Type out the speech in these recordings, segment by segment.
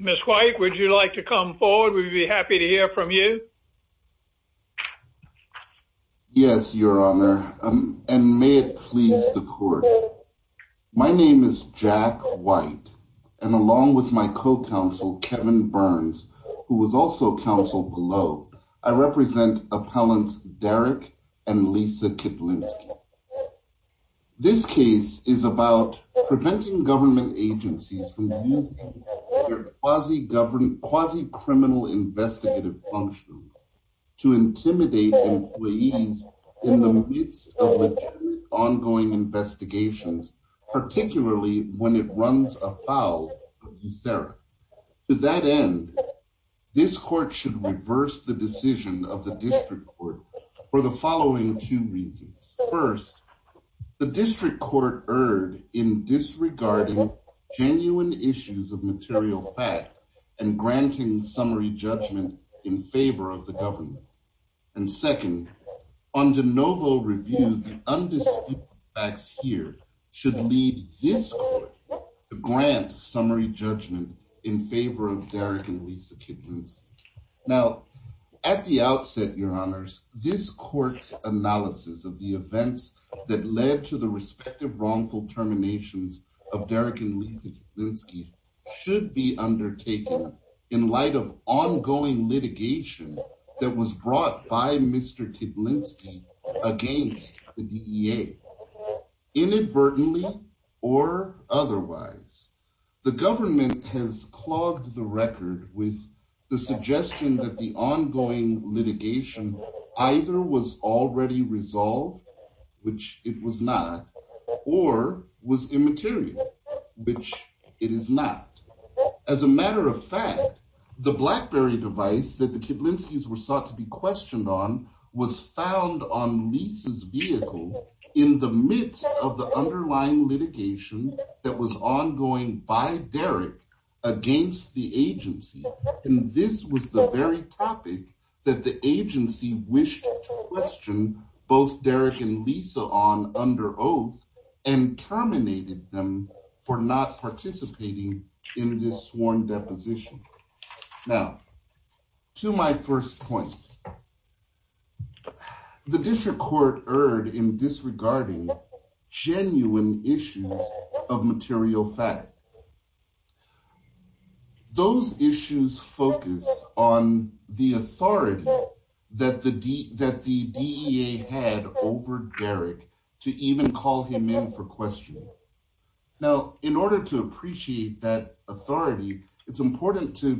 Mr. White, would you like to come forward? We'd be happy to hear from you. Yes, Your Honor, and may it please the court. My name is Jack White, and along with my co-counsel, Kevin Burns, who was also counsel below, I represent appellants Derek and Lisa Kitlinski. This case is about preventing government agencies from using their quasi-criminal investigative functions to intimidate employees in the midst of legitimate, ongoing investigations, particularly when it runs afoul of DeSera. To that end, this court should reverse the decision of the district court for the following two reasons. First, the district court erred in disregarding genuine issues of material fact and granting summary judgment in favor of the government. And second, on de novo review, the undisputed facts here should lead this court to grant summary judgment in favor of Derek and Lisa Kitlinski. Now, at the outset, Your Honors, this court's analysis of the events that led to the respective wrongful terminations of Derek and Lisa Kitlinski should be undertaken in light of ongoing litigation that was brought by Mr. Kitlinski against the DEA. Inadvertently or otherwise, the government has clogged the record with the suggestion that the ongoing litigation either was already resolved, which it was not, or was immaterial, which it is not. As a matter of fact, the BlackBerry device that the Kitlinskis were sought to be questioned on was found on Lisa's vehicle in the midst of the underlying litigation that was ongoing by Derek against the agency. And this was the very topic that the agency wished to question both Derek and Lisa on under oath and terminated them for not participating in this sworn deposition. Now, to my first point, the district court erred in disregarding genuine issues of material fact. Those issues focus on the authority that the DEA had over Derek to even call him in for questioning. Now, in order to appreciate that authority, it's important to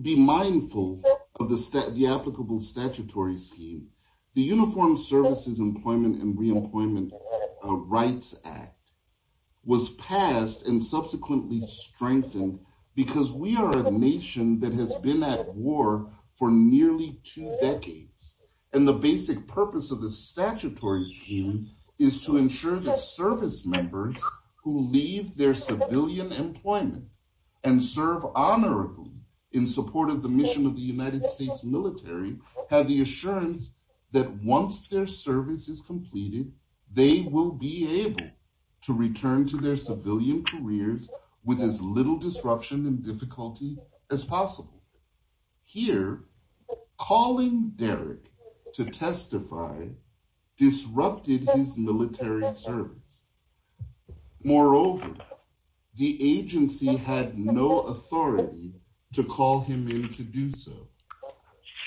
be mindful of the applicable statutory scheme, the Uniformed Services Employment and Reemployment Rights Act was passed and subsequently strengthened because we are a nation that has been at war for nearly two decades. And the basic purpose of the statutory scheme is to ensure that service members who leave their civilian employment and serve honorably in support of the mission of the United States military have the assurance that once their service is completed, they will be able to return to their civilian careers with as little disruption and difficulty as possible. Here, calling Derek to testify disrupted his military service. Moreover, the agency had no authority to call him in to do so.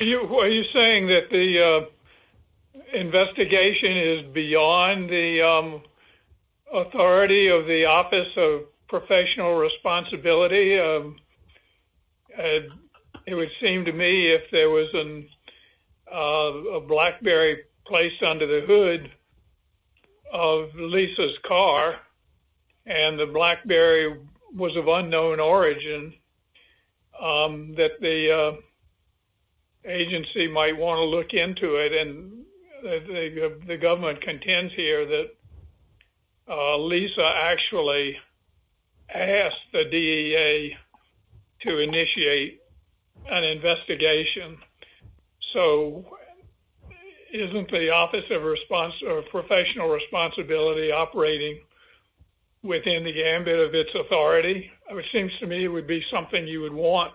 Are you saying that the investigation is beyond the authority of the Office of Professional Responsibility? It would seem to me if there was a BlackBerry placed under the hood of Lisa's car, and the BlackBerry was of unknown origin, that the agency might want to look into it. And the government contends here that Lisa actually asked the DEA to initiate an investigation. So isn't the Office of Professional Responsibility operating within the gambit of its authority? It seems to me it would be something you would want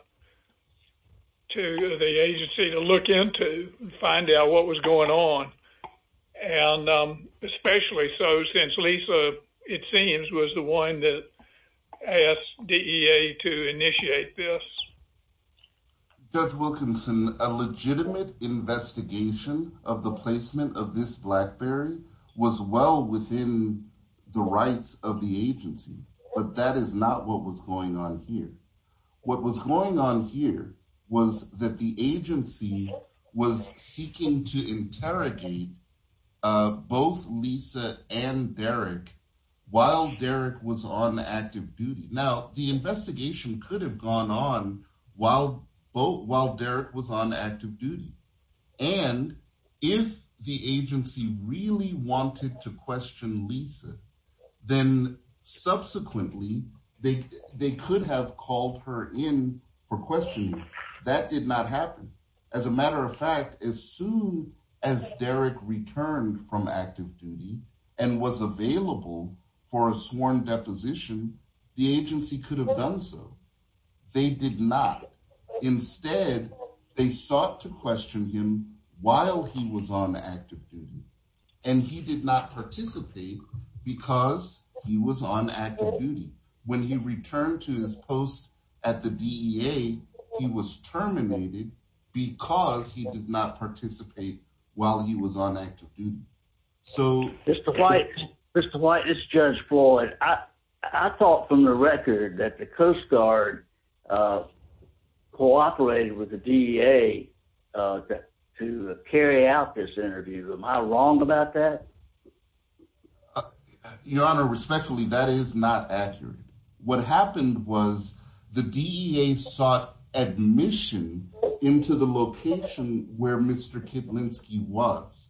the agency to look into and find out what was going on. And especially so since Lisa, it seems, was the one that asked DEA to initiate this. Judge Wilkinson, a legitimate investigation of the placement of this BlackBerry was well within the rights of the agency. But that is not what was going on here. What was going on here was that the agency was seeking to interrogate both Lisa and Derek while Derek was on active duty. Now, the investigation could have gone on while Derek was on active duty. And if the agency really wanted to question Lisa, then subsequently they could have called her in for questioning. That did not happen. As a matter of fact, as soon as Derek returned from active duty and was available for a sworn deposition, the agency could have done so. They did not. Instead, they sought to question him while he was on active duty. And he did not participate because he was on active duty. When he returned to his post at the DEA, he was terminated because he did not participate while he was on active duty. Mr. White, this is Judge Floyd. I thought from the record that the Coast Guard cooperated with the DEA to carry out this interview. Am I wrong about that? Your Honor, respectfully, that is not accurate. What happened was the DEA sought admission into the location where Mr. Kiblinski was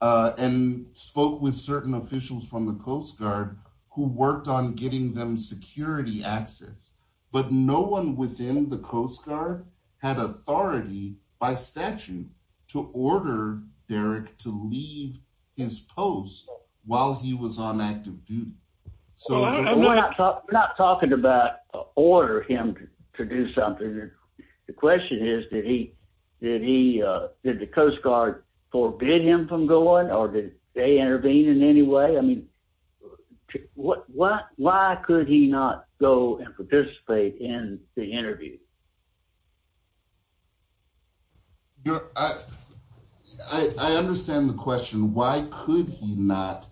and spoke with certain officials from the Coast Guard who worked on getting them security access. But no one within the Coast Guard had authority by statute to order Derek to leave his post while he was on active duty. We're not talking about ordering him to do something. The question is, did the Coast Guard forbid him from going or did they intervene in any way? I mean, why could he not go and participate in the interview? Your Honor, I understand the question. Why could he not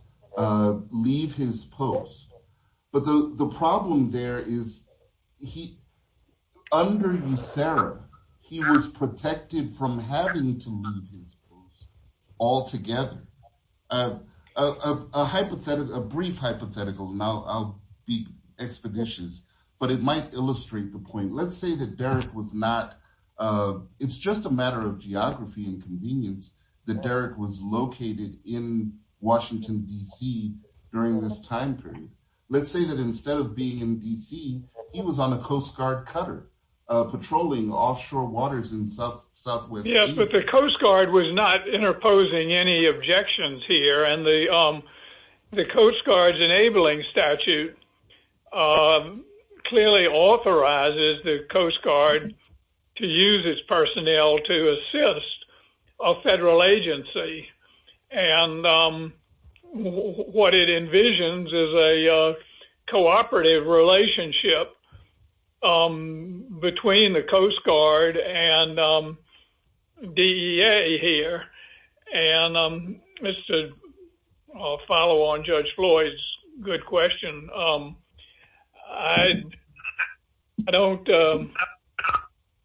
leave his post? But the problem there is under USERRA, he was protected from having to leave his post altogether. A hypothetical, a brief hypothetical, and I'll be expeditious, but it might illustrate the point. Let's say that Derek was not – it's just a matter of geography and convenience that Derek was located in Washington, D.C. during this time period. Let's say that instead of being in D.C., he was on a Coast Guard cutter patrolling offshore waters in southwest – to use his personnel to assist a federal agency. And what it envisions is a cooperative relationship between the Coast Guard and DEA here. And just to follow on Judge Floyd's good question, I don't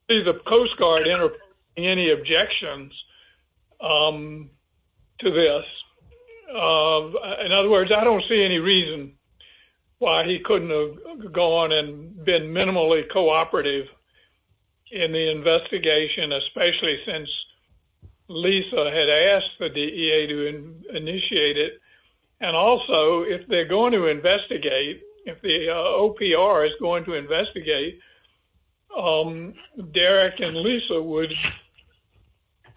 see the Coast Guard interpreting any objections to this. In other words, I don't see any reason why he couldn't have gone and been minimally cooperative in the investigation, especially since Lisa had asked for DEA to initiate it. And also, if they're going to investigate, if the OPR is going to investigate, Derek and Lisa would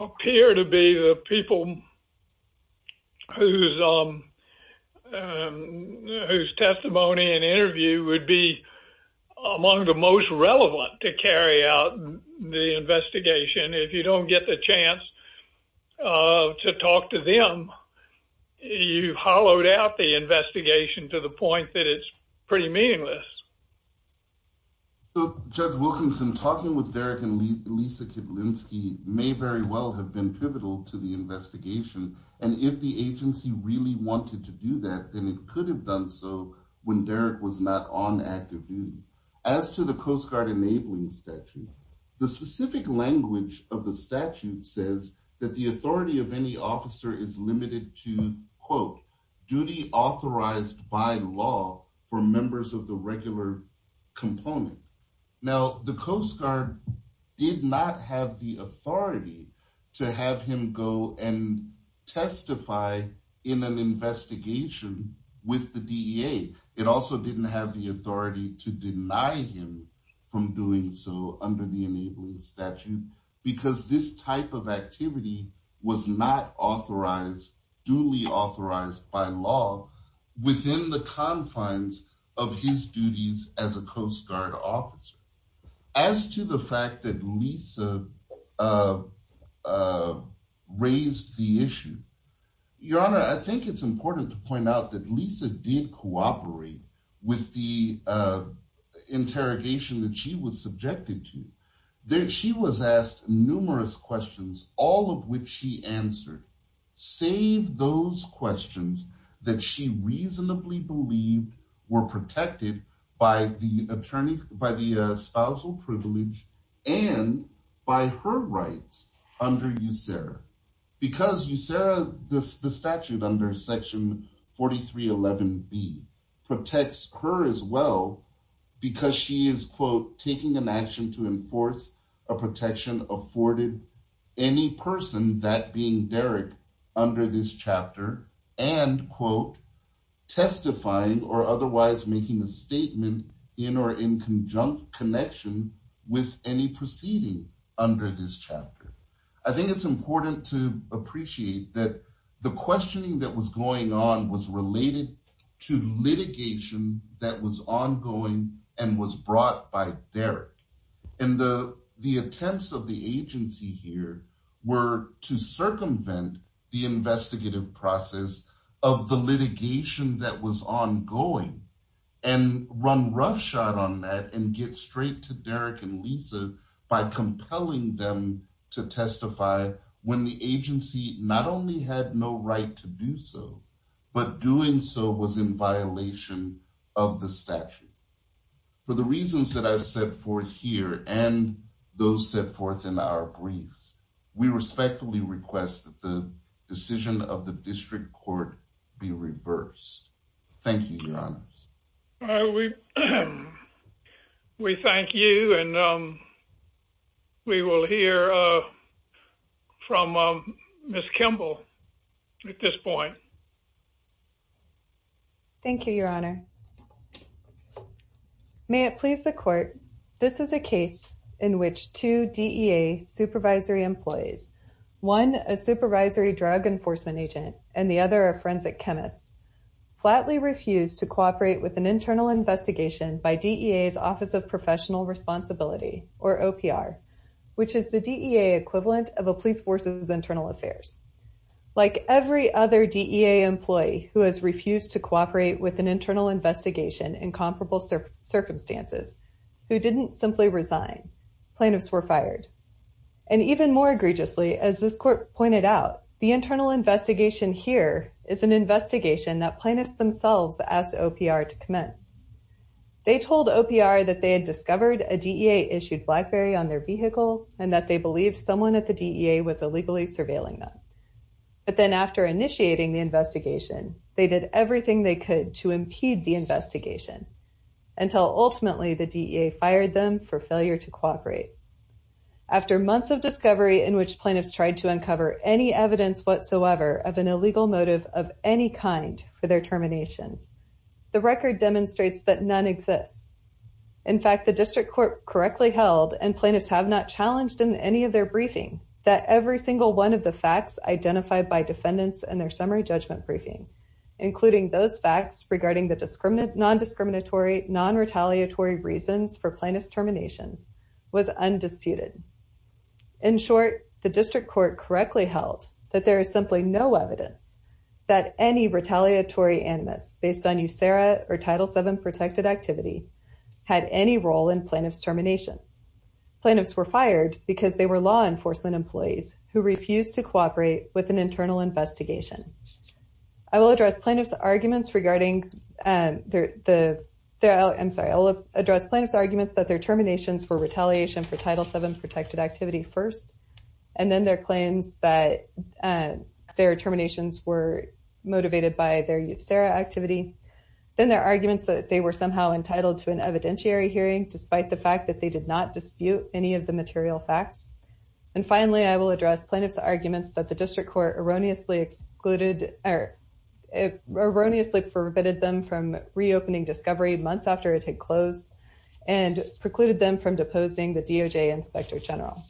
appear to be the people whose testimony and interview would be among the most relevant to carry out the investigation. If you don't get the chance to talk to them, you've hollowed out the investigation to the point that it's pretty meaningless. So, Judge Wilkinson, talking with Derek and Lisa Kiblinski may very well have been pivotal to the investigation. And if the agency really wanted to do that, then it could have done so when Derek was not on active duty. As to the Coast Guard enabling statute, the specific language of the statute says that the authority of any officer is limited to, quote, duty authorized by law for members of the regular component. Now, the Coast Guard did not have the authority to have him go and testify in an investigation with the DEA. It also didn't have the authority to deny him from doing so under the enabling statute because this type of activity was not authorized, duly authorized by law within the confines of his duties as a Coast Guard officer. As to the fact that Lisa raised the issue, Your Honor, I think it's important to point out that Lisa did cooperate with the interrogation that she was subjected to. She was asked numerous questions, all of which she answered, save those questions that she reasonably believed were protected by the attorney, by the spousal privilege and by her rights under USERRA. Because USERRA, the statute under Section 4311B, protects her as well because she is, quote, taking an action to enforce a protection afforded any person that being Derek under this chapter and, quote, testifying or otherwise making a statement in or in conjunction with any proceeding under this chapter. I think it's important to appreciate that the questioning that was going on was related to litigation that was ongoing and was brought by Derek. And the attempts of the agency here were to circumvent the investigative process of the litigation that was ongoing and run roughshod on that and get straight to Derek and Lisa by compelling them to testify when the agency not only had no right to do so, but doing so was in violation of the statute. For the reasons that I've set forth here and those set forth in our briefs, we respectfully request that the decision of the district court be reversed. Thank you, Your Honor. We thank you. And we will hear from Miss Kimball at this point. Thank you, Your Honor. May it please the court, this is a case in which two DEA supervisory employees, one a supervisory drug enforcement agent and the other a forensic chemist, flatly refused to cooperate with an internal investigation by DEA's Office of Professional Responsibility, or OPR, which is the DEA equivalent of a police force's internal affairs. Like every other DEA employee who has refused to cooperate with an internal investigation in comparable circumstances, who didn't simply resign, plaintiffs were fired. And even more egregiously, as this court pointed out, the internal investigation here is an investigation that plaintiffs themselves asked OPR to commence. They told OPR that they had discovered a DEA-issued BlackBerry on their vehicle and that they believed someone at the DEA was illegally surveilling them. But then after initiating the investigation, they did everything they could to impede the investigation until ultimately the DEA fired them for failure to cooperate. After months of discovery in which plaintiffs tried to uncover any evidence whatsoever of an illegal motive of any kind for their terminations, the record demonstrates that none exists. In fact, the district court correctly held, and plaintiffs have not challenged in any of their briefing, that every single one of the facts identified by defendants in their summary judgment briefing, including those facts regarding the non-discriminatory, non-retaliatory reasons for plaintiffs' terminations, was undisputed. In short, the district court correctly held that there is simply no evidence that any retaliatory animus based on USERRA or Title VII protected activity had any role in plaintiffs' terminations. Plaintiffs were fired because they were law enforcement employees who refused to cooperate with an internal investigation. I will address plaintiffs' arguments that their terminations were retaliation for Title VII protected activity first, and then their claims that their terminations were motivated by their USERRA activity. Then their arguments that they were somehow entitled to an evidentiary hearing, despite the fact that they did not dispute any of the material facts. And finally, I will address plaintiffs' arguments that the district court erroneously excluded, erroneously prohibited them from reopening Discovery months after it had closed, and precluded them from deposing the DOJ Inspector General.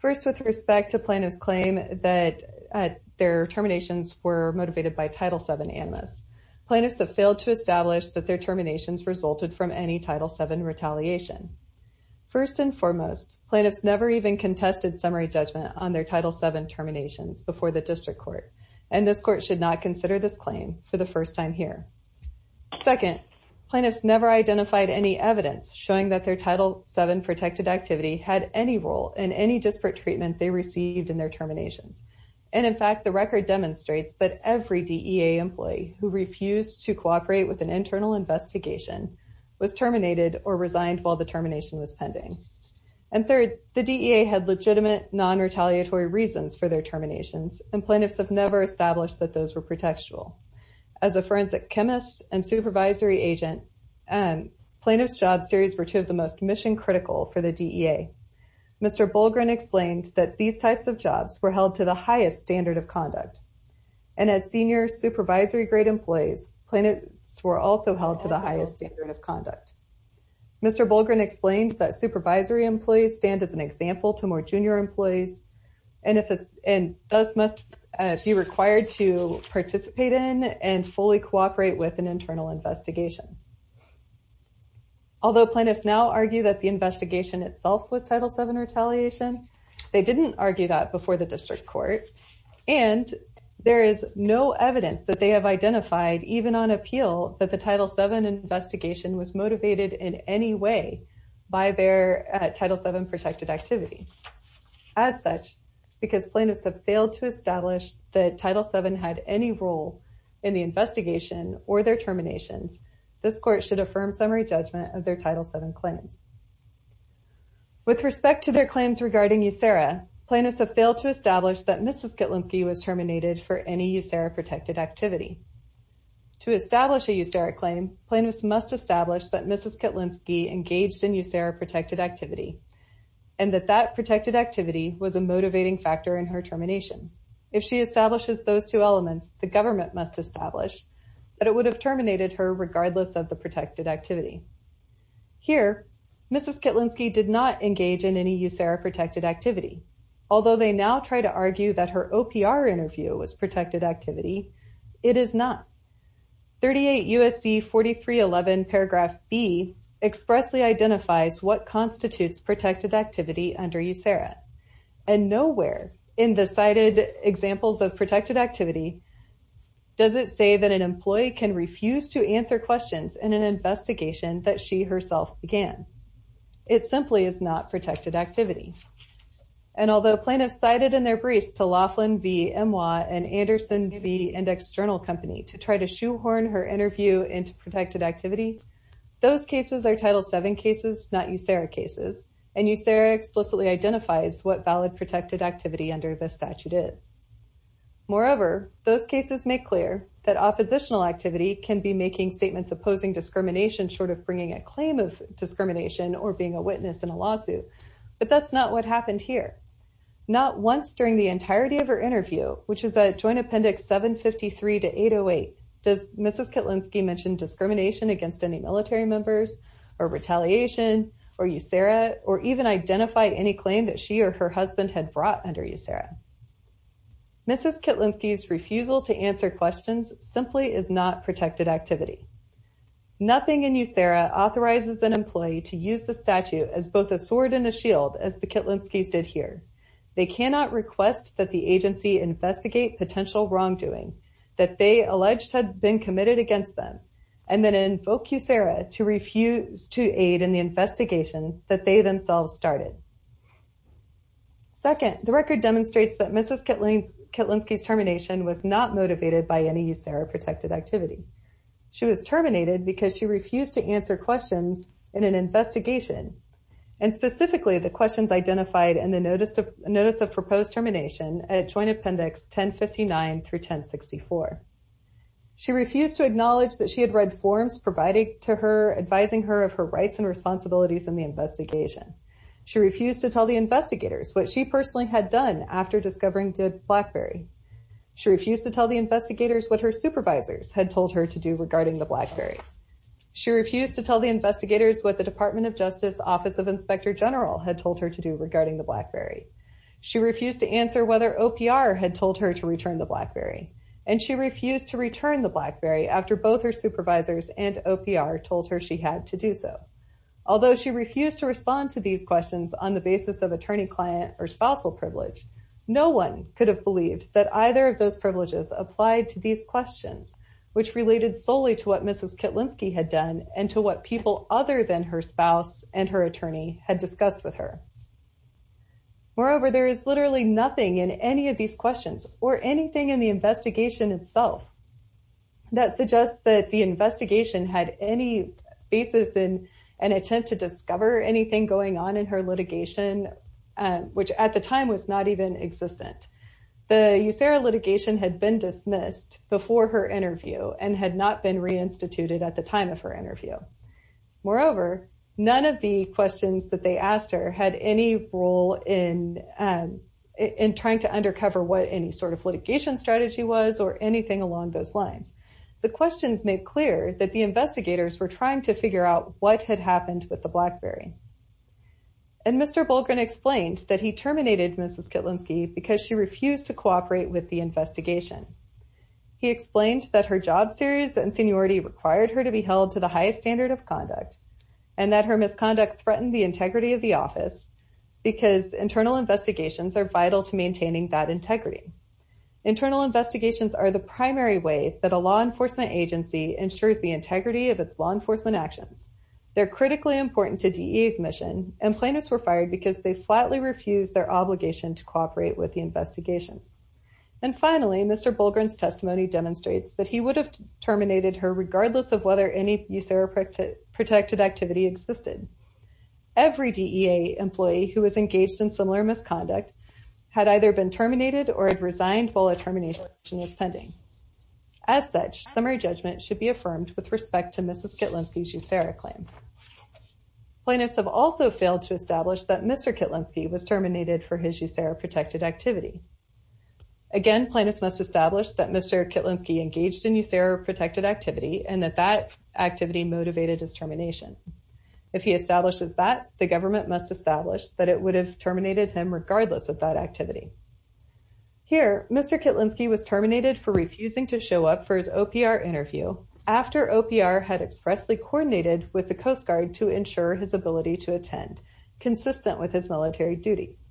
First, with respect to plaintiffs' claim that their terminations were motivated by Title VII animus, plaintiffs have failed to establish that their terminations resulted from any Title VII retaliation. First and foremost, plaintiffs never even contested summary judgment on their Title VII terminations before the district court, and this court should not consider this claim for the first time here. Second, plaintiffs never identified any evidence showing that their Title VII protected activity had any role in any disparate treatment they received in their terminations. And in fact, the record demonstrates that every DEA employee who refused to cooperate with an internal investigation was terminated or resigned while the termination was pending. And third, the DEA had legitimate, non-retaliatory reasons for their terminations, and plaintiffs have never established that those were pretextual. As a forensic chemist and supervisory agent, plaintiffs' job series were two of the most mission-critical for the DEA. Mr. Bolgren explained that these types of jobs were held to the highest standard of conduct, and as senior supervisory-grade employees, plaintiffs were also held to the highest standard of conduct. Mr. Bolgren explained that supervisory employees stand as an example to more junior employees and thus must be required to participate in and fully cooperate with an internal investigation. Although plaintiffs now argue that the investigation itself was Title VII retaliation, they didn't argue that before the district court, and there is no evidence that they have identified, even on appeal, that the Title VII investigation was motivated in any way by their Title VII protected activity. As such, because plaintiffs have failed to establish that Title VII had any role in the investigation or their terminations, this court should affirm summary judgment of their Title VII claims. With respect to their claims regarding USERRA, plaintiffs have failed to establish that Mrs. Kitlinski was terminated for any USERRA-protected activity. To establish a USERRA claim, plaintiffs must establish that Mrs. Kitlinski engaged in USERRA-protected activity and that that protected activity was a motivating factor in her termination. If she establishes those two elements, the government must establish that it would have terminated her regardless of the protected activity. Here, Mrs. Kitlinski did not engage in any USERRA-protected activity. Although they now try to argue that her OPR interview was protected activity, it is not. 38 U.S.C. 4311 paragraph B expressly identifies what constitutes protected activity under USERRA, and nowhere in the cited examples of protected activity does it say that an employee can refuse to answer questions in an investigation that she herself began. It simply is not protected activity. And although plaintiffs cited in their briefs to Laughlin v. Emwa and Anderson v. Index Journal Company to try to shoehorn her interview into protected activity, those cases are Title VII cases, not USERRA cases, and USERRA explicitly identifies what valid protected activity under this statute is. Moreover, those cases make clear that oppositional activity can be making statements opposing discrimination short of bringing a claim of discrimination or being a witness in a lawsuit, but that's not what happened here. Not once during the entirety of her interview, which is at Joint Appendix 753 to 808, does Mrs. Kitlinski mention discrimination against any military members or retaliation or USERRA or even identify any claim that she or her husband had brought under USERRA. Mrs. Kitlinski's refusal to answer questions simply is not protected activity. Nothing in USERRA authorizes an employee to use the statute as both a sword and a shield, as the Kitlinskis did here. They cannot request that the agency investigate potential wrongdoing that they alleged had been committed against them and then invoke USERRA to refuse to aid in the investigation that they themselves started. Second, the record demonstrates that Mrs. Kitlinski's termination was not motivated by any USERRA-protected activity. She was terminated because she refused to answer questions in an investigation, and specifically the questions identified in the Notice of Proposed Termination at Joint Appendix 1059 through 1064. She refused to acknowledge that she had read forms providing to her advising her of her rights and responsibilities in the investigation. She refused to tell the investigators what she personally had done after discovering the BlackBerry. She refused to tell the investigators what her supervisors had told her to do regarding the BlackBerry. She refused to tell the investigators what the department of Justice Office of Inspector General had told her to do regarding the BlackBerry. She refused to answer whether OPR had told her to return the BlackBerry, and she refused to return the BlackBerry after both her supervisors and OPR told her she had to do so. Although she refused to respond to these questions on the basis of attorney-client or spousal privilege, no one could have believed that either of those privileges applied to these questions, which related solely to what Mrs. Kietlinski had done and to what people other than her spouse and her attorney had discussed with her. Moreover, there is literally nothing in any of these questions or anything in the investigation itself that suggests that the investigation had any basis in an attempt to discover anything going on in her litigation, which at the time was not even existent. The USARA litigation had been dismissed before her interview and had not been reinstituted at the time of her interview. Moreover, none of the questions that they asked her had any role in trying to undercover what any sort of litigation strategy was or anything along those lines. The questions made clear that the investigators were trying to figure out what had happened with the BlackBerry. And Mr. Bolgren explained that he terminated Mrs. Kietlinski because she refused to cooperate with the investigation. He explained that her job series and seniority required her to be held to the highest standard of conduct and that her misconduct threatened the integrity of the office because internal investigations are vital to maintaining that integrity. Internal investigations are the primary way that a law enforcement agency ensures the integrity of its law enforcement actions. They're critically important to DEA's mission and plaintiffs were fired because they flatly refused their obligation to cooperate with the investigation. And finally, Mr. Bolgren's testimony demonstrates that he would have terminated her regardless of whether any USARA protected activity existed. Every DEA employee who was engaged in similar misconduct had either been terminated or resigned while a termination was pending. As such, summary judgment should be affirmed with respect to Mrs. Kietlinski's USARA claim. Plaintiffs have also failed to establish that Mr. Kietlinski was terminated for his USARA protected activity. Again, plaintiffs must establish that Mr. Kietlinski engaged in USARA protected activity and that that activity motivated his termination. If he establishes that, the government must establish that it would have terminated him regardless of that activity. Here, Mr. Kietlinski was terminated for refusing to show up for his OPR interview after OPR had expressly coordinated with the Coast Guard to ensure his ability to attend, consistent with his military duties.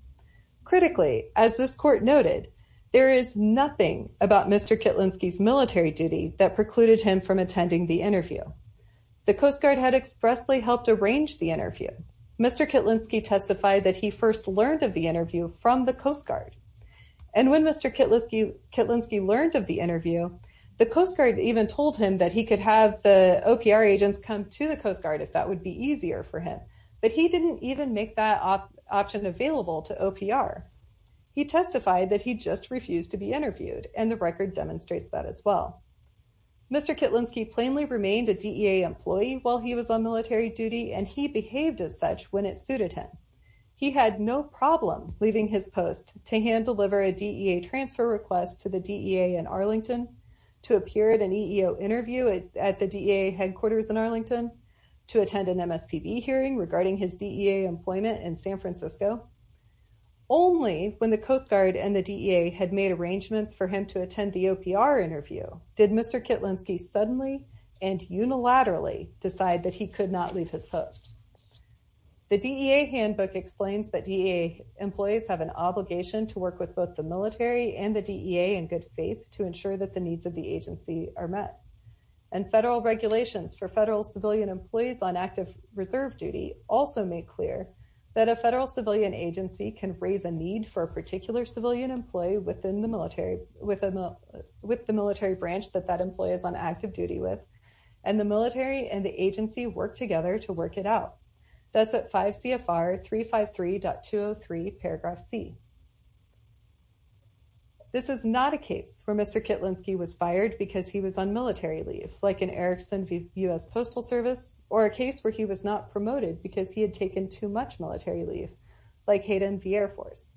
Critically, as this court noted, there is nothing about Mr. Kietlinski's military duty that precluded him from attending the interview. The Coast Guard had expressly helped arrange the interview. Mr. Kietlinski testified that he first learned of the interview from the Coast Guard. And when Mr. Kietlinski learned of the interview, the Coast Guard even told him that he could have the OPR agents come to the Coast Guard if that would be easier for him. But he didn't even make that option available to OPR. He testified that he just refused to be interviewed, and the record demonstrates that as well. Mr. Kietlinski plainly remained a DEA employee while he was on military duty, and he behaved as such when it suited him. He had no problem leaving his post to hand deliver a DEA transfer request to the DEA in Arlington, to appear at an EEO interview at the DEA headquarters in Arlington, to attend an MSPB hearing regarding his DEA employment in San Francisco. Only when the Coast Guard and the DEA had made arrangements for him to attend the OPR interview did Mr. Kietlinski suddenly and unilaterally decide that he could not leave his post. The DEA handbook explains that DEA employees have an obligation to work with both the military and the DEA in good faith to ensure that the needs of the agency are met. And federal regulations for federal civilian employees on active reserve duty also make clear that a federal civilian agency can raise a need for a particular civilian employee with the military branch that that employee is on active duty with, and the military and the agency work together to work it out. That's at 5 CFR 353.203 paragraph C. This is not a case where Mr. Kietlinski was fired because he was on military leave, like an Erickson U.S. Postal Service, or a case where he was not promoted because he had taken too much military leave, like Hayden v. Air Force.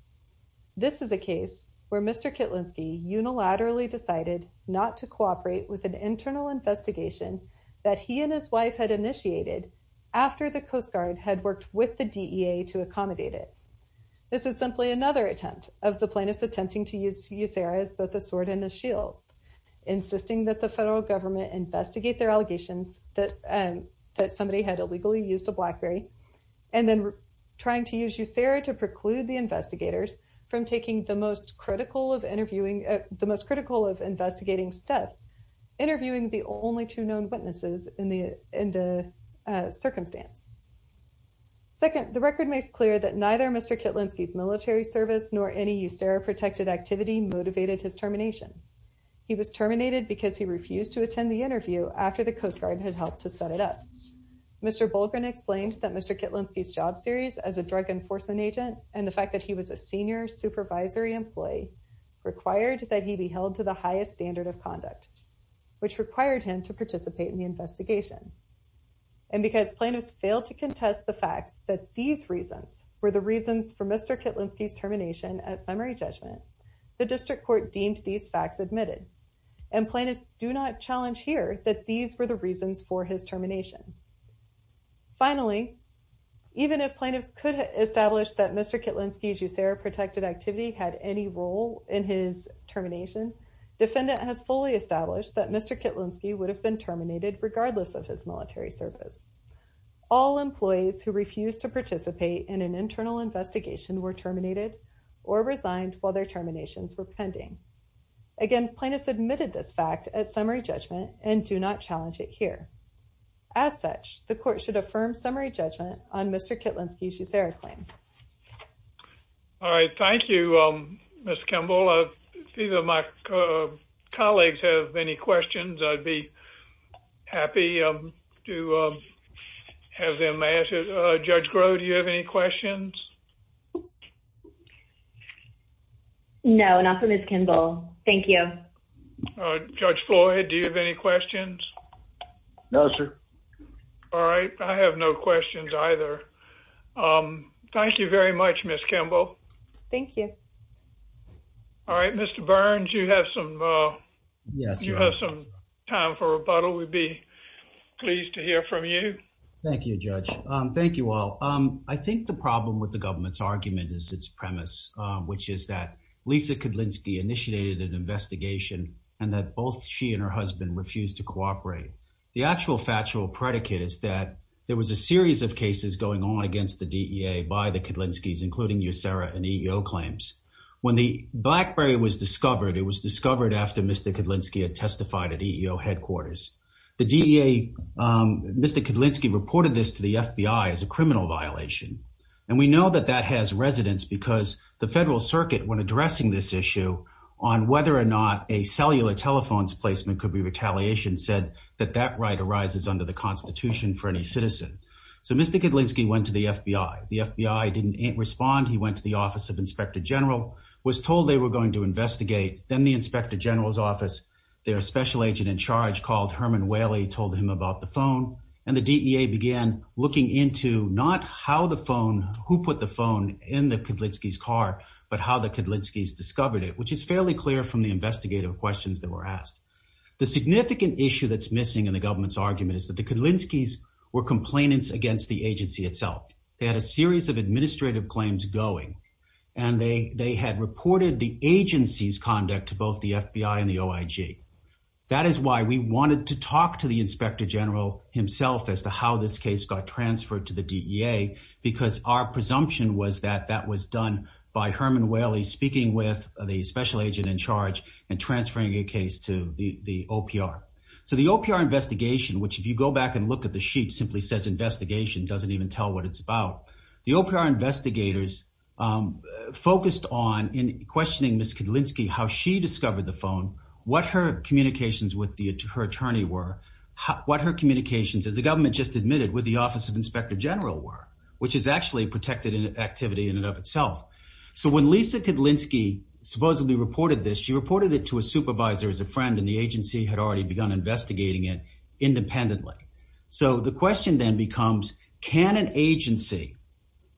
This is a case where Mr. Kietlinski unilaterally decided not to cooperate with an internal investigation that he and his wife had initiated after the Coast Guard had worked with the DEA to accommodate it. This is simply another attempt of the plaintiffs attempting to use USERRA as both a sword and a shield, insisting that the federal government investigate their allegations that somebody had illegally used a BlackBerry, and then trying to use USERRA to preclude the investigators from taking the most critical of investigating steps, interviewing the only two known witnesses in the circumstance. Second, the record makes clear that neither Mr. Kietlinski's military service nor any USERRA-protected activity motivated his termination. He was terminated because he refused to attend the interview after the Coast Guard had helped to set it up. Mr. Bolgren explained that Mr. Kietlinski's job series as a drug enforcement agent, and the fact that he was a senior supervisory employee, required that he be held to the highest standard of conduct, which required him to participate in the investigation. And because plaintiffs failed to contest the fact that these reasons were the reasons for Mr. Kietlinski's termination at summary judgment, the district court deemed these facts admitted. And plaintiffs do not challenge here that these were the reasons for his termination. Finally, even if plaintiffs could establish that Mr. Kietlinski's USERRA-protected activity had any role in his termination, defendant has fully established that Mr. Kietlinski would have been terminated regardless of his military service. All employees who refused to participate in an internal investigation were terminated or resigned while their terminations were pending. Again, plaintiffs admitted this fact at summary judgment and do not challenge it here. As such, the court should affirm summary judgment on Mr. Kietlinski's USERRA claim. All right, thank you, Ms. Kimball. If any of my colleagues have any questions, I'd be happy to have them ask it. Judge Groh, do you have any questions? No, not for Ms. Kimball. Judge Floyd, do you have any questions? No, sir. All right, I have no questions either. Thank you very much, Ms. Kimball. Thank you. All right, Mr. Burns, you have some time for rebuttal. We'd be pleased to hear from you. Thank you, Judge. Thank you all. I think the problem with the government's argument is its premise, which is that Lisa Kietlinski initiated an investigation and that both she and her husband refused to cooperate. The actual factual predicate is that there was a series of cases going on against the DEA by the Kietlinskis, including USERRA and EEO claims. When the BlackBerry was discovered, it was discovered after Mr. Kietlinski had testified at EEO headquarters. Mr. Kietlinski reported this to the FBI as a criminal violation. And we know that that has residence because the Federal Circuit, when addressing this issue on whether or not a cellular telephone's placement could be retaliation, said that that right arises under the Constitution for any citizen. So Mr. Kietlinski went to the FBI. The FBI didn't respond. He went to the Office of Inspector General, was told they were going to investigate. Then the Inspector General's office, their special agent in charge called Herman Whaley, told him about the phone. And the DEA began looking into not how the phone, who put the phone in the Kietlinski's car, but how the Kietlinski's discovered it, which is fairly clear from the investigative questions that were asked. The significant issue that's missing in the government's argument is that the Kietlinski's were complainants against the agency itself. They had a series of administrative claims going, and they had reported the agency's conduct to both the FBI and the OIG. That is why we wanted to talk to the Inspector General himself as to how this case got transferred to the DEA, because our presumption was that that was done by Herman Whaley speaking with the special agent in charge and transferring a case to the OPR. So the OPR investigation, which if you go back and look at the sheet, simply says investigation, doesn't even tell what it's about. The OPR investigators focused on, in questioning Ms. Kietlinski, how she discovered the phone, what her communications with her attorney were, what her communications, as the government just admitted, with the Office of Inspector General were, which is actually protected activity in and of itself. So when Lisa Kietlinski supposedly reported this, she reported it to a supervisor as a friend, and the agency had already begun investigating it independently. So the question then becomes, can an agency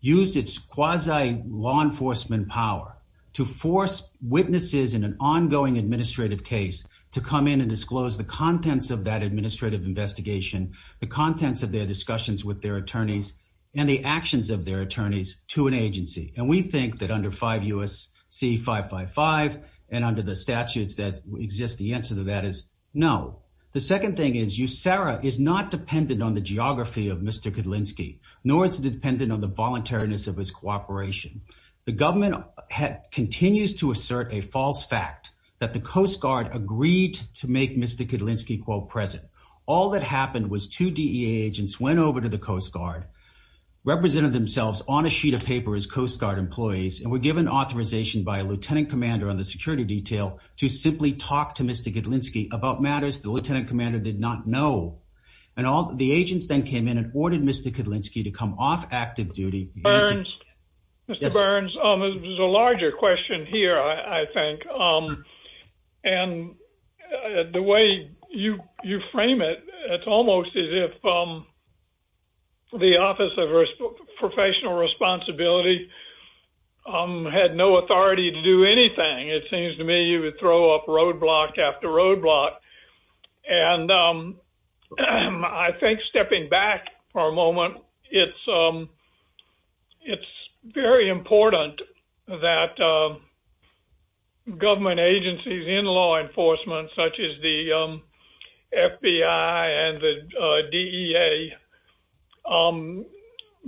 use its quasi-law enforcement power to force witnesses in an ongoing administrative case to come in and disclose the contents of that administrative investigation, the contents of their discussions with their attorneys, and the actions of their attorneys to an agency? And we think that under 5 U.S.C. 555 and under the statutes that exist, the answer to that is no. The second thing is USARA is not dependent on the geography of Mr. Kietlinski, nor is it dependent on the voluntariness of his cooperation. The government continues to assert a false fact that the Coast Guard agreed to make Mr. Kietlinski, quote, present. All that happened was two DEA agents went over to the Coast Guard, represented themselves on a sheet of paper as Coast Guard employees, and were given authorization by a lieutenant commander on the security detail to simply talk to Mr. Kietlinski about matters the lieutenant commander did not know. And the agents then came in and ordered Mr. Kietlinski to come off active duty. Mr. Burns, there's a larger question here, I think. And the way you frame it, it's almost as if the Office of Professional Responsibility had no authority to do anything. It seems to me you would throw up roadblock after roadblock. And I think stepping back for a moment, it's very important that government agencies in law enforcement, such as the FBI and the DEA,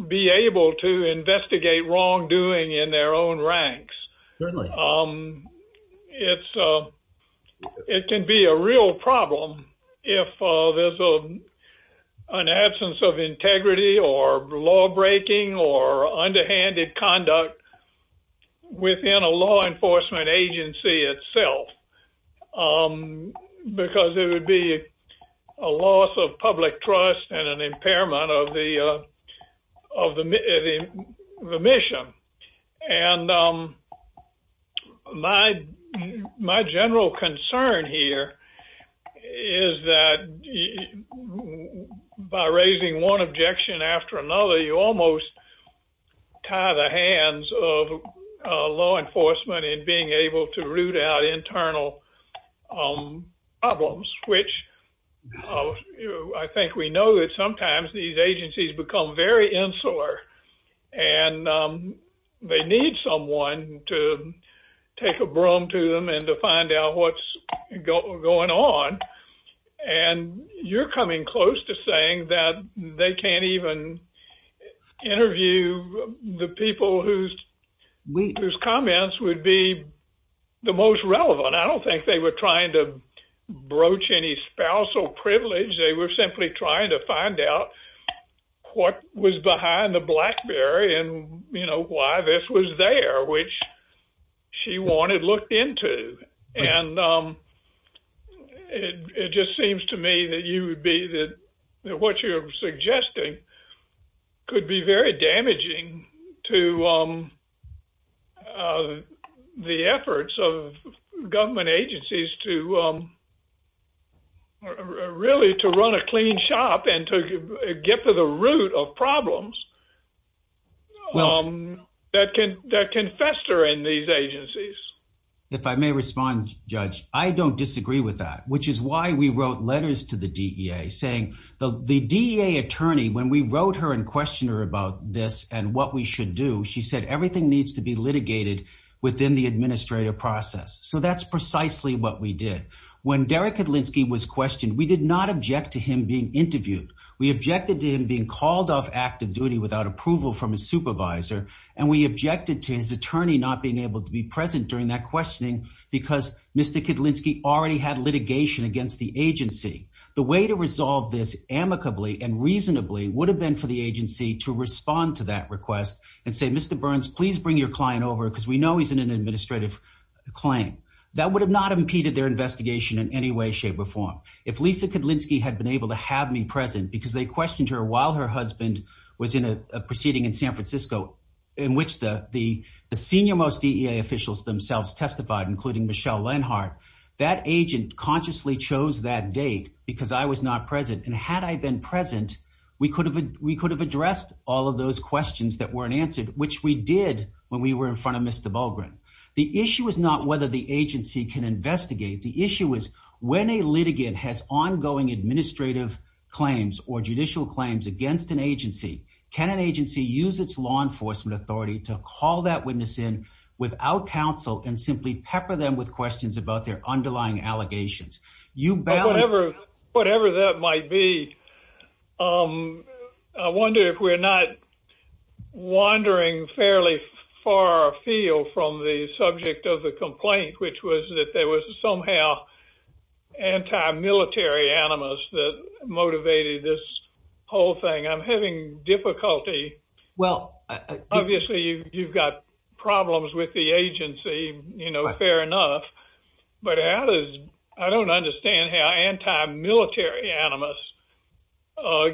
be able to investigate wrongdoing in their own ranks. It can be a real problem if there's an absence of integrity or lawbreaking or underhanded conduct within a law enforcement agency itself. Because there would be a loss of public trust and an impairment of the mission. And my general concern here is that by raising one objection after another, you almost tie the hands of law enforcement in being able to root out internal problems. I think we know that sometimes these agencies become very insular and they need someone to take a broom to them and to find out what's going on. And you're coming close to saying that they can't even interview the people whose comments would be the most relevant. I don't think they were trying to broach any spousal privilege. They were simply trying to find out what was behind the BlackBerry and why this was there, which she wanted looked into. And it just seems to me that you would be that what you're suggesting could be very damaging to the efforts of government agencies to really to run a clean shop and to get to the root of problems. That can fester in these agencies. If I may respond, Judge, I don't disagree with that, which is why we wrote letters to the DEA saying the DEA attorney, when we wrote her and questioned her about this and what we should do, she said everything needs to be litigated within the administrative process. So that's precisely what we did. When Derek Kedlinski was questioned, we did not object to him being interviewed. We objected to him being called off active duty without approval from his supervisor. And we objected to his attorney not being able to be present during that questioning because Mr. Kedlinski already had litigation against the agency. The way to resolve this amicably and reasonably would have been for the agency to respond to that request and say, Mr. Burns, please bring your client over because we know he's in an administrative claim. That would have not impeded their investigation in any way, shape or form. If Lisa Kedlinski had been able to have me present because they questioned her while her husband was in a proceeding in San Francisco in which the senior most DEA officials themselves testified, including Michelle Lenhart, that agent consciously chose that date because I was not present. And had I been present, we could have addressed all of those questions that weren't answered, which we did when we were in front of Mr. Bulgarin. The issue is not whether the agency can investigate. The issue is when a litigant has ongoing administrative claims or judicial claims against an agency, can an agency use its law enforcement authority to call that witness in without counsel and simply pepper them with questions about their underlying allegations? Whatever, whatever that might be. I wonder if we're not wandering fairly far afield from the subject of the complaint, which was that there was somehow anti-military animus that motivated this whole thing. I'm having difficulty. Well, obviously, you've got problems with the agency. You know, fair enough. But I don't understand how anti-military animus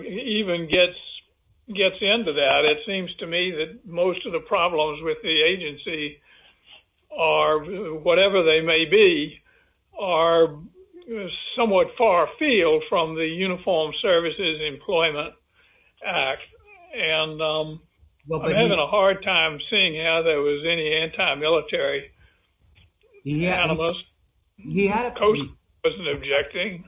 even gets into that. It seems to me that most of the problems with the agency are, whatever they may be, are somewhat far afield from the Uniformed Services Employment Act. And I'm having a hard time seeing how there was any anti-military animus. The Coast Guard wasn't objecting.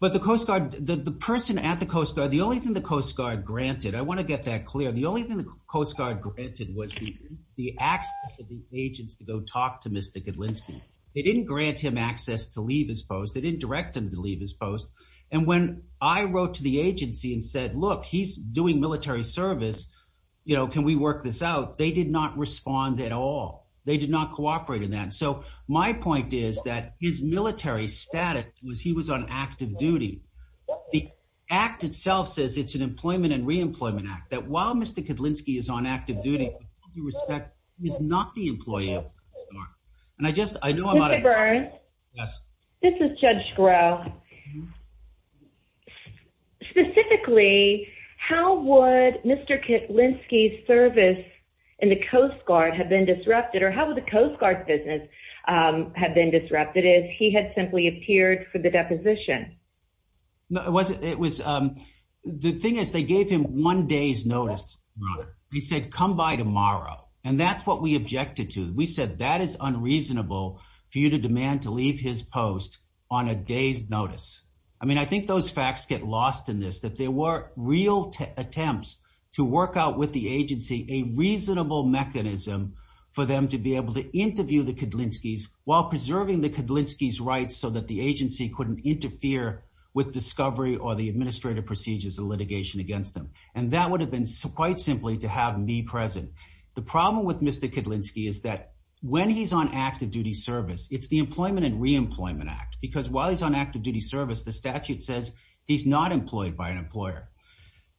But the Coast Guard, the person at the Coast Guard, the only thing the Coast Guard granted, I want to get that clear. The only thing the Coast Guard granted was the access of the agents to go talk to Mr. Gudlinski. They didn't grant him access to leave his post. They didn't direct him to leave his post. And when I wrote to the agency and said, look, he's doing military service. You know, can we work this out? They did not respond at all. They did not cooperate in that. So my point is that his military status was he was on active duty. The act itself says it's an Employment and Reemployment Act, that while Mr. Gudlinski is on active duty, he is not the employee of the Coast Guard. And I just, I know I'm out of time. Mr. Burns? Yes. This is Judge Sgro. Specifically, how would Mr. Gudlinski's service in the Coast Guard have been disrupted? Or how would the Coast Guard's business have been disrupted if he had simply appeared for the deposition? It was the thing is they gave him one day's notice. He said, come by tomorrow. And that's what we objected to. We said that is unreasonable for you to demand to leave his post on a day's notice. I mean, I think those facts get lost in this, that there were real attempts to work out with the agency a reasonable mechanism for them to be able to interview the Gudlinski's while preserving the Gudlinski's rights so that the agency couldn't interfere with discovery or the administrative procedures and litigation against them. And that would have been quite simply to have me present. The problem with Mr. Gudlinski is that when he's on active duty service, it's the Employment and Reemployment Act. Because while he's on active duty service, the statute says he's not employed by an employer.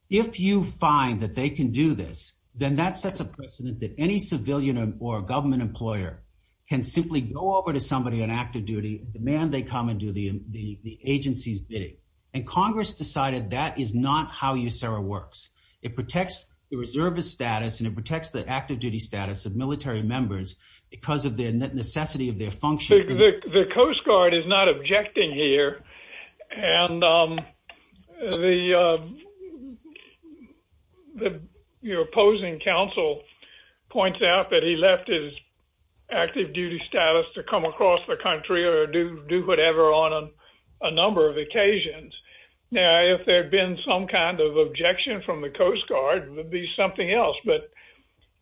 If you find that they can do this, then that sets a precedent that any civilian or government employer can simply go over to somebody on active duty, demand they come and do the agency's bidding. And Congress decided that is not how USERRA works. It protects the reservist status and it protects the active duty status of military members because of the necessity of their function. The Coast Guard is not objecting here. And the opposing counsel points out that he left his active duty status to come across the country or do whatever on a number of occasions. Now, if there had been some kind of objection from the Coast Guard, it would be something else. But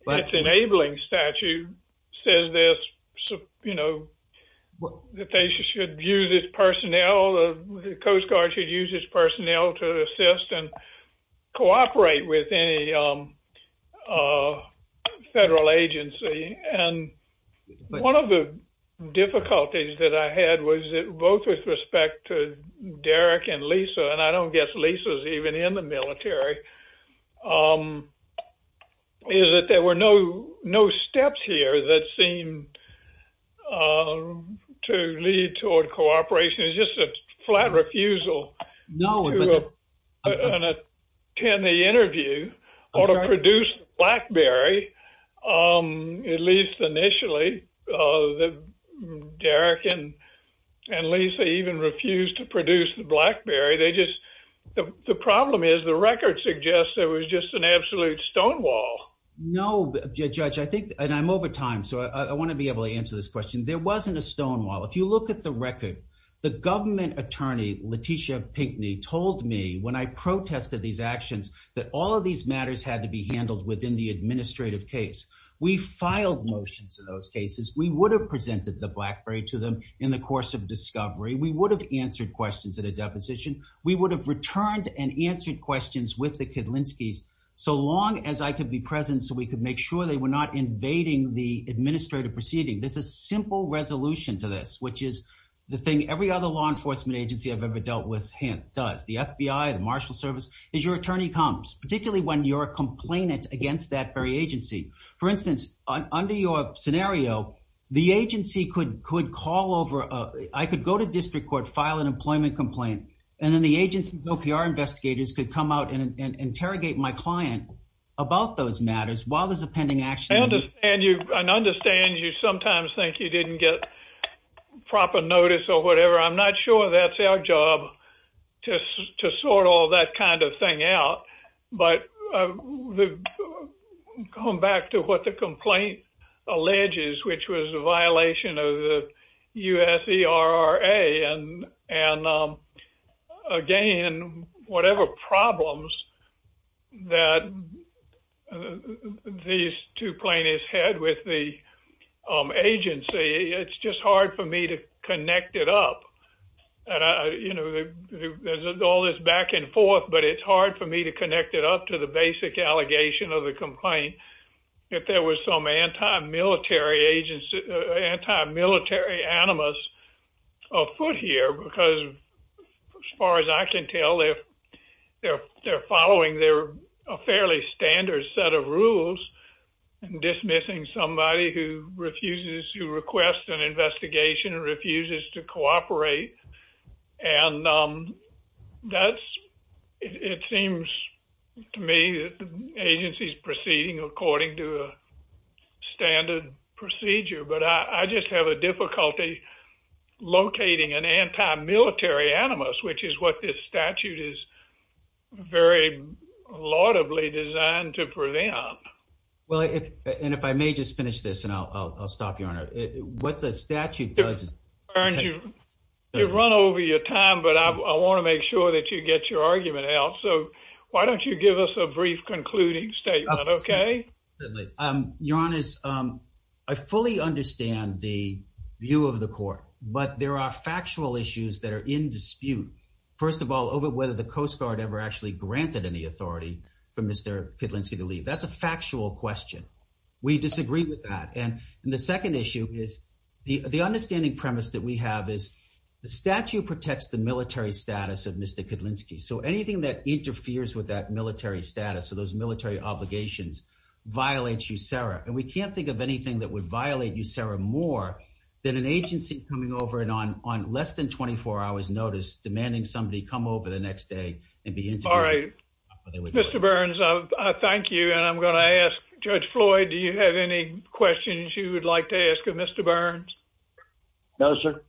its enabling statute says this, you know, that they should use its personnel, the Coast Guard should use its personnel to assist and cooperate with any federal agency. And one of the difficulties that I had was both with respect to Derek and Lisa, and I don't guess Lisa's even in the military, is that there were no steps here that seemed to lead toward cooperation. It was just a flat refusal to attend the interview or to produce the BlackBerry, at least initially. Derek and Lisa even refused to produce the BlackBerry. The problem is the record suggests there was just an absolute stonewall. No, Judge, I think, and I'm over time, so I want to be able to answer this question. There wasn't a stonewall. If you look at the record, the government attorney, Letitia Pinckney, told me when I protested these actions that all of these matters had to be handled within the administrative case. We filed motions in those cases. We would have presented the BlackBerry to them in the course of discovery. We would have answered questions at a deposition. We would have returned and answered questions with the Kedlinskis so long as I could be present so we could make sure they were not invading the administrative proceeding. There's a simple resolution to this, which is the thing every other law enforcement agency I've ever dealt with does. The FBI, the Marshal Service, is your attorney comes, particularly when you're a complainant against that very agency. For instance, under your scenario, the agency could call over. I could go to district court, file an employment complaint, and then the agency OPR investigators could come out and interrogate my client about those matters while there's a pending action. I understand you sometimes think you didn't get proper notice or whatever. I'm not sure that's our job to sort all that kind of thing out. But going back to what the complaint alleges, which was a violation of the USERRA, and again, whatever problems that these two plaintiffs had with the agency, it's just hard for me to connect it up. There's all this back and forth, but it's hard for me to connect it up to the basic allegation of the complaint. If there was some anti-military animus afoot here, because as far as I can tell, they're following a fairly standard set of rules, dismissing somebody who refuses to request an investigation or refuses to cooperate. It seems to me that the agency's proceeding according to a standard procedure, but I just have a difficulty locating an anti-military animus, which is what this statute is very laudably designed to prevent. Well, and if I may just finish this and I'll stop, Your Honor. What the statute does is— You've run over your time, but I want to make sure that you get your argument out. So why don't you give us a brief concluding statement, okay? Certainly. Your Honor, I fully understand the view of the court, but there are factual issues that are in dispute. First of all, over whether the Coast Guard ever actually granted any authority for Mr. Kedlinski to leave. That's a factual question. We disagree with that. And the second issue is the understanding premise that we have is the statute protects the military status of Mr. Kedlinski. So anything that interferes with that military status or those military obligations violates USERRA. And we can't think of anything that would violate USERRA more than an agency coming over and on less than 24 hours' notice demanding somebody come over the next day and be interviewed. All right. Mr. Burns, I thank you, and I'm going to ask Judge Floyd, do you have any questions you would like to ask of Mr. Burns? No, sir.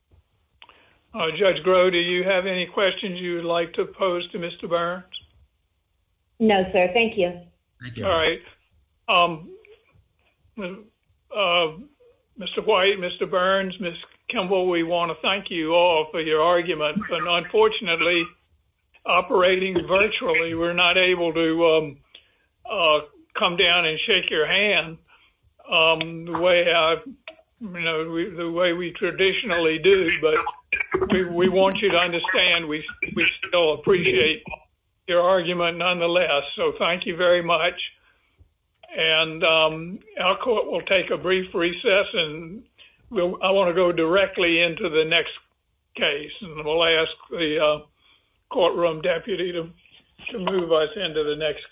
Judge Groh, do you have any questions you would like to pose to Mr. Burns? No, sir. Thank you. All right. Mr. White, Mr. Burns, Ms. Kimball, we want to thank you all for your argument. Unfortunately, operating virtually, we're not able to come down and shake your hand the way we traditionally do. But we want you to understand we still appreciate your argument nonetheless. So thank you very much. And our court will take a brief recess. I want to go directly into the next case. And we'll ask the courtroom deputy to move us into the next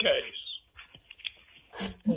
case.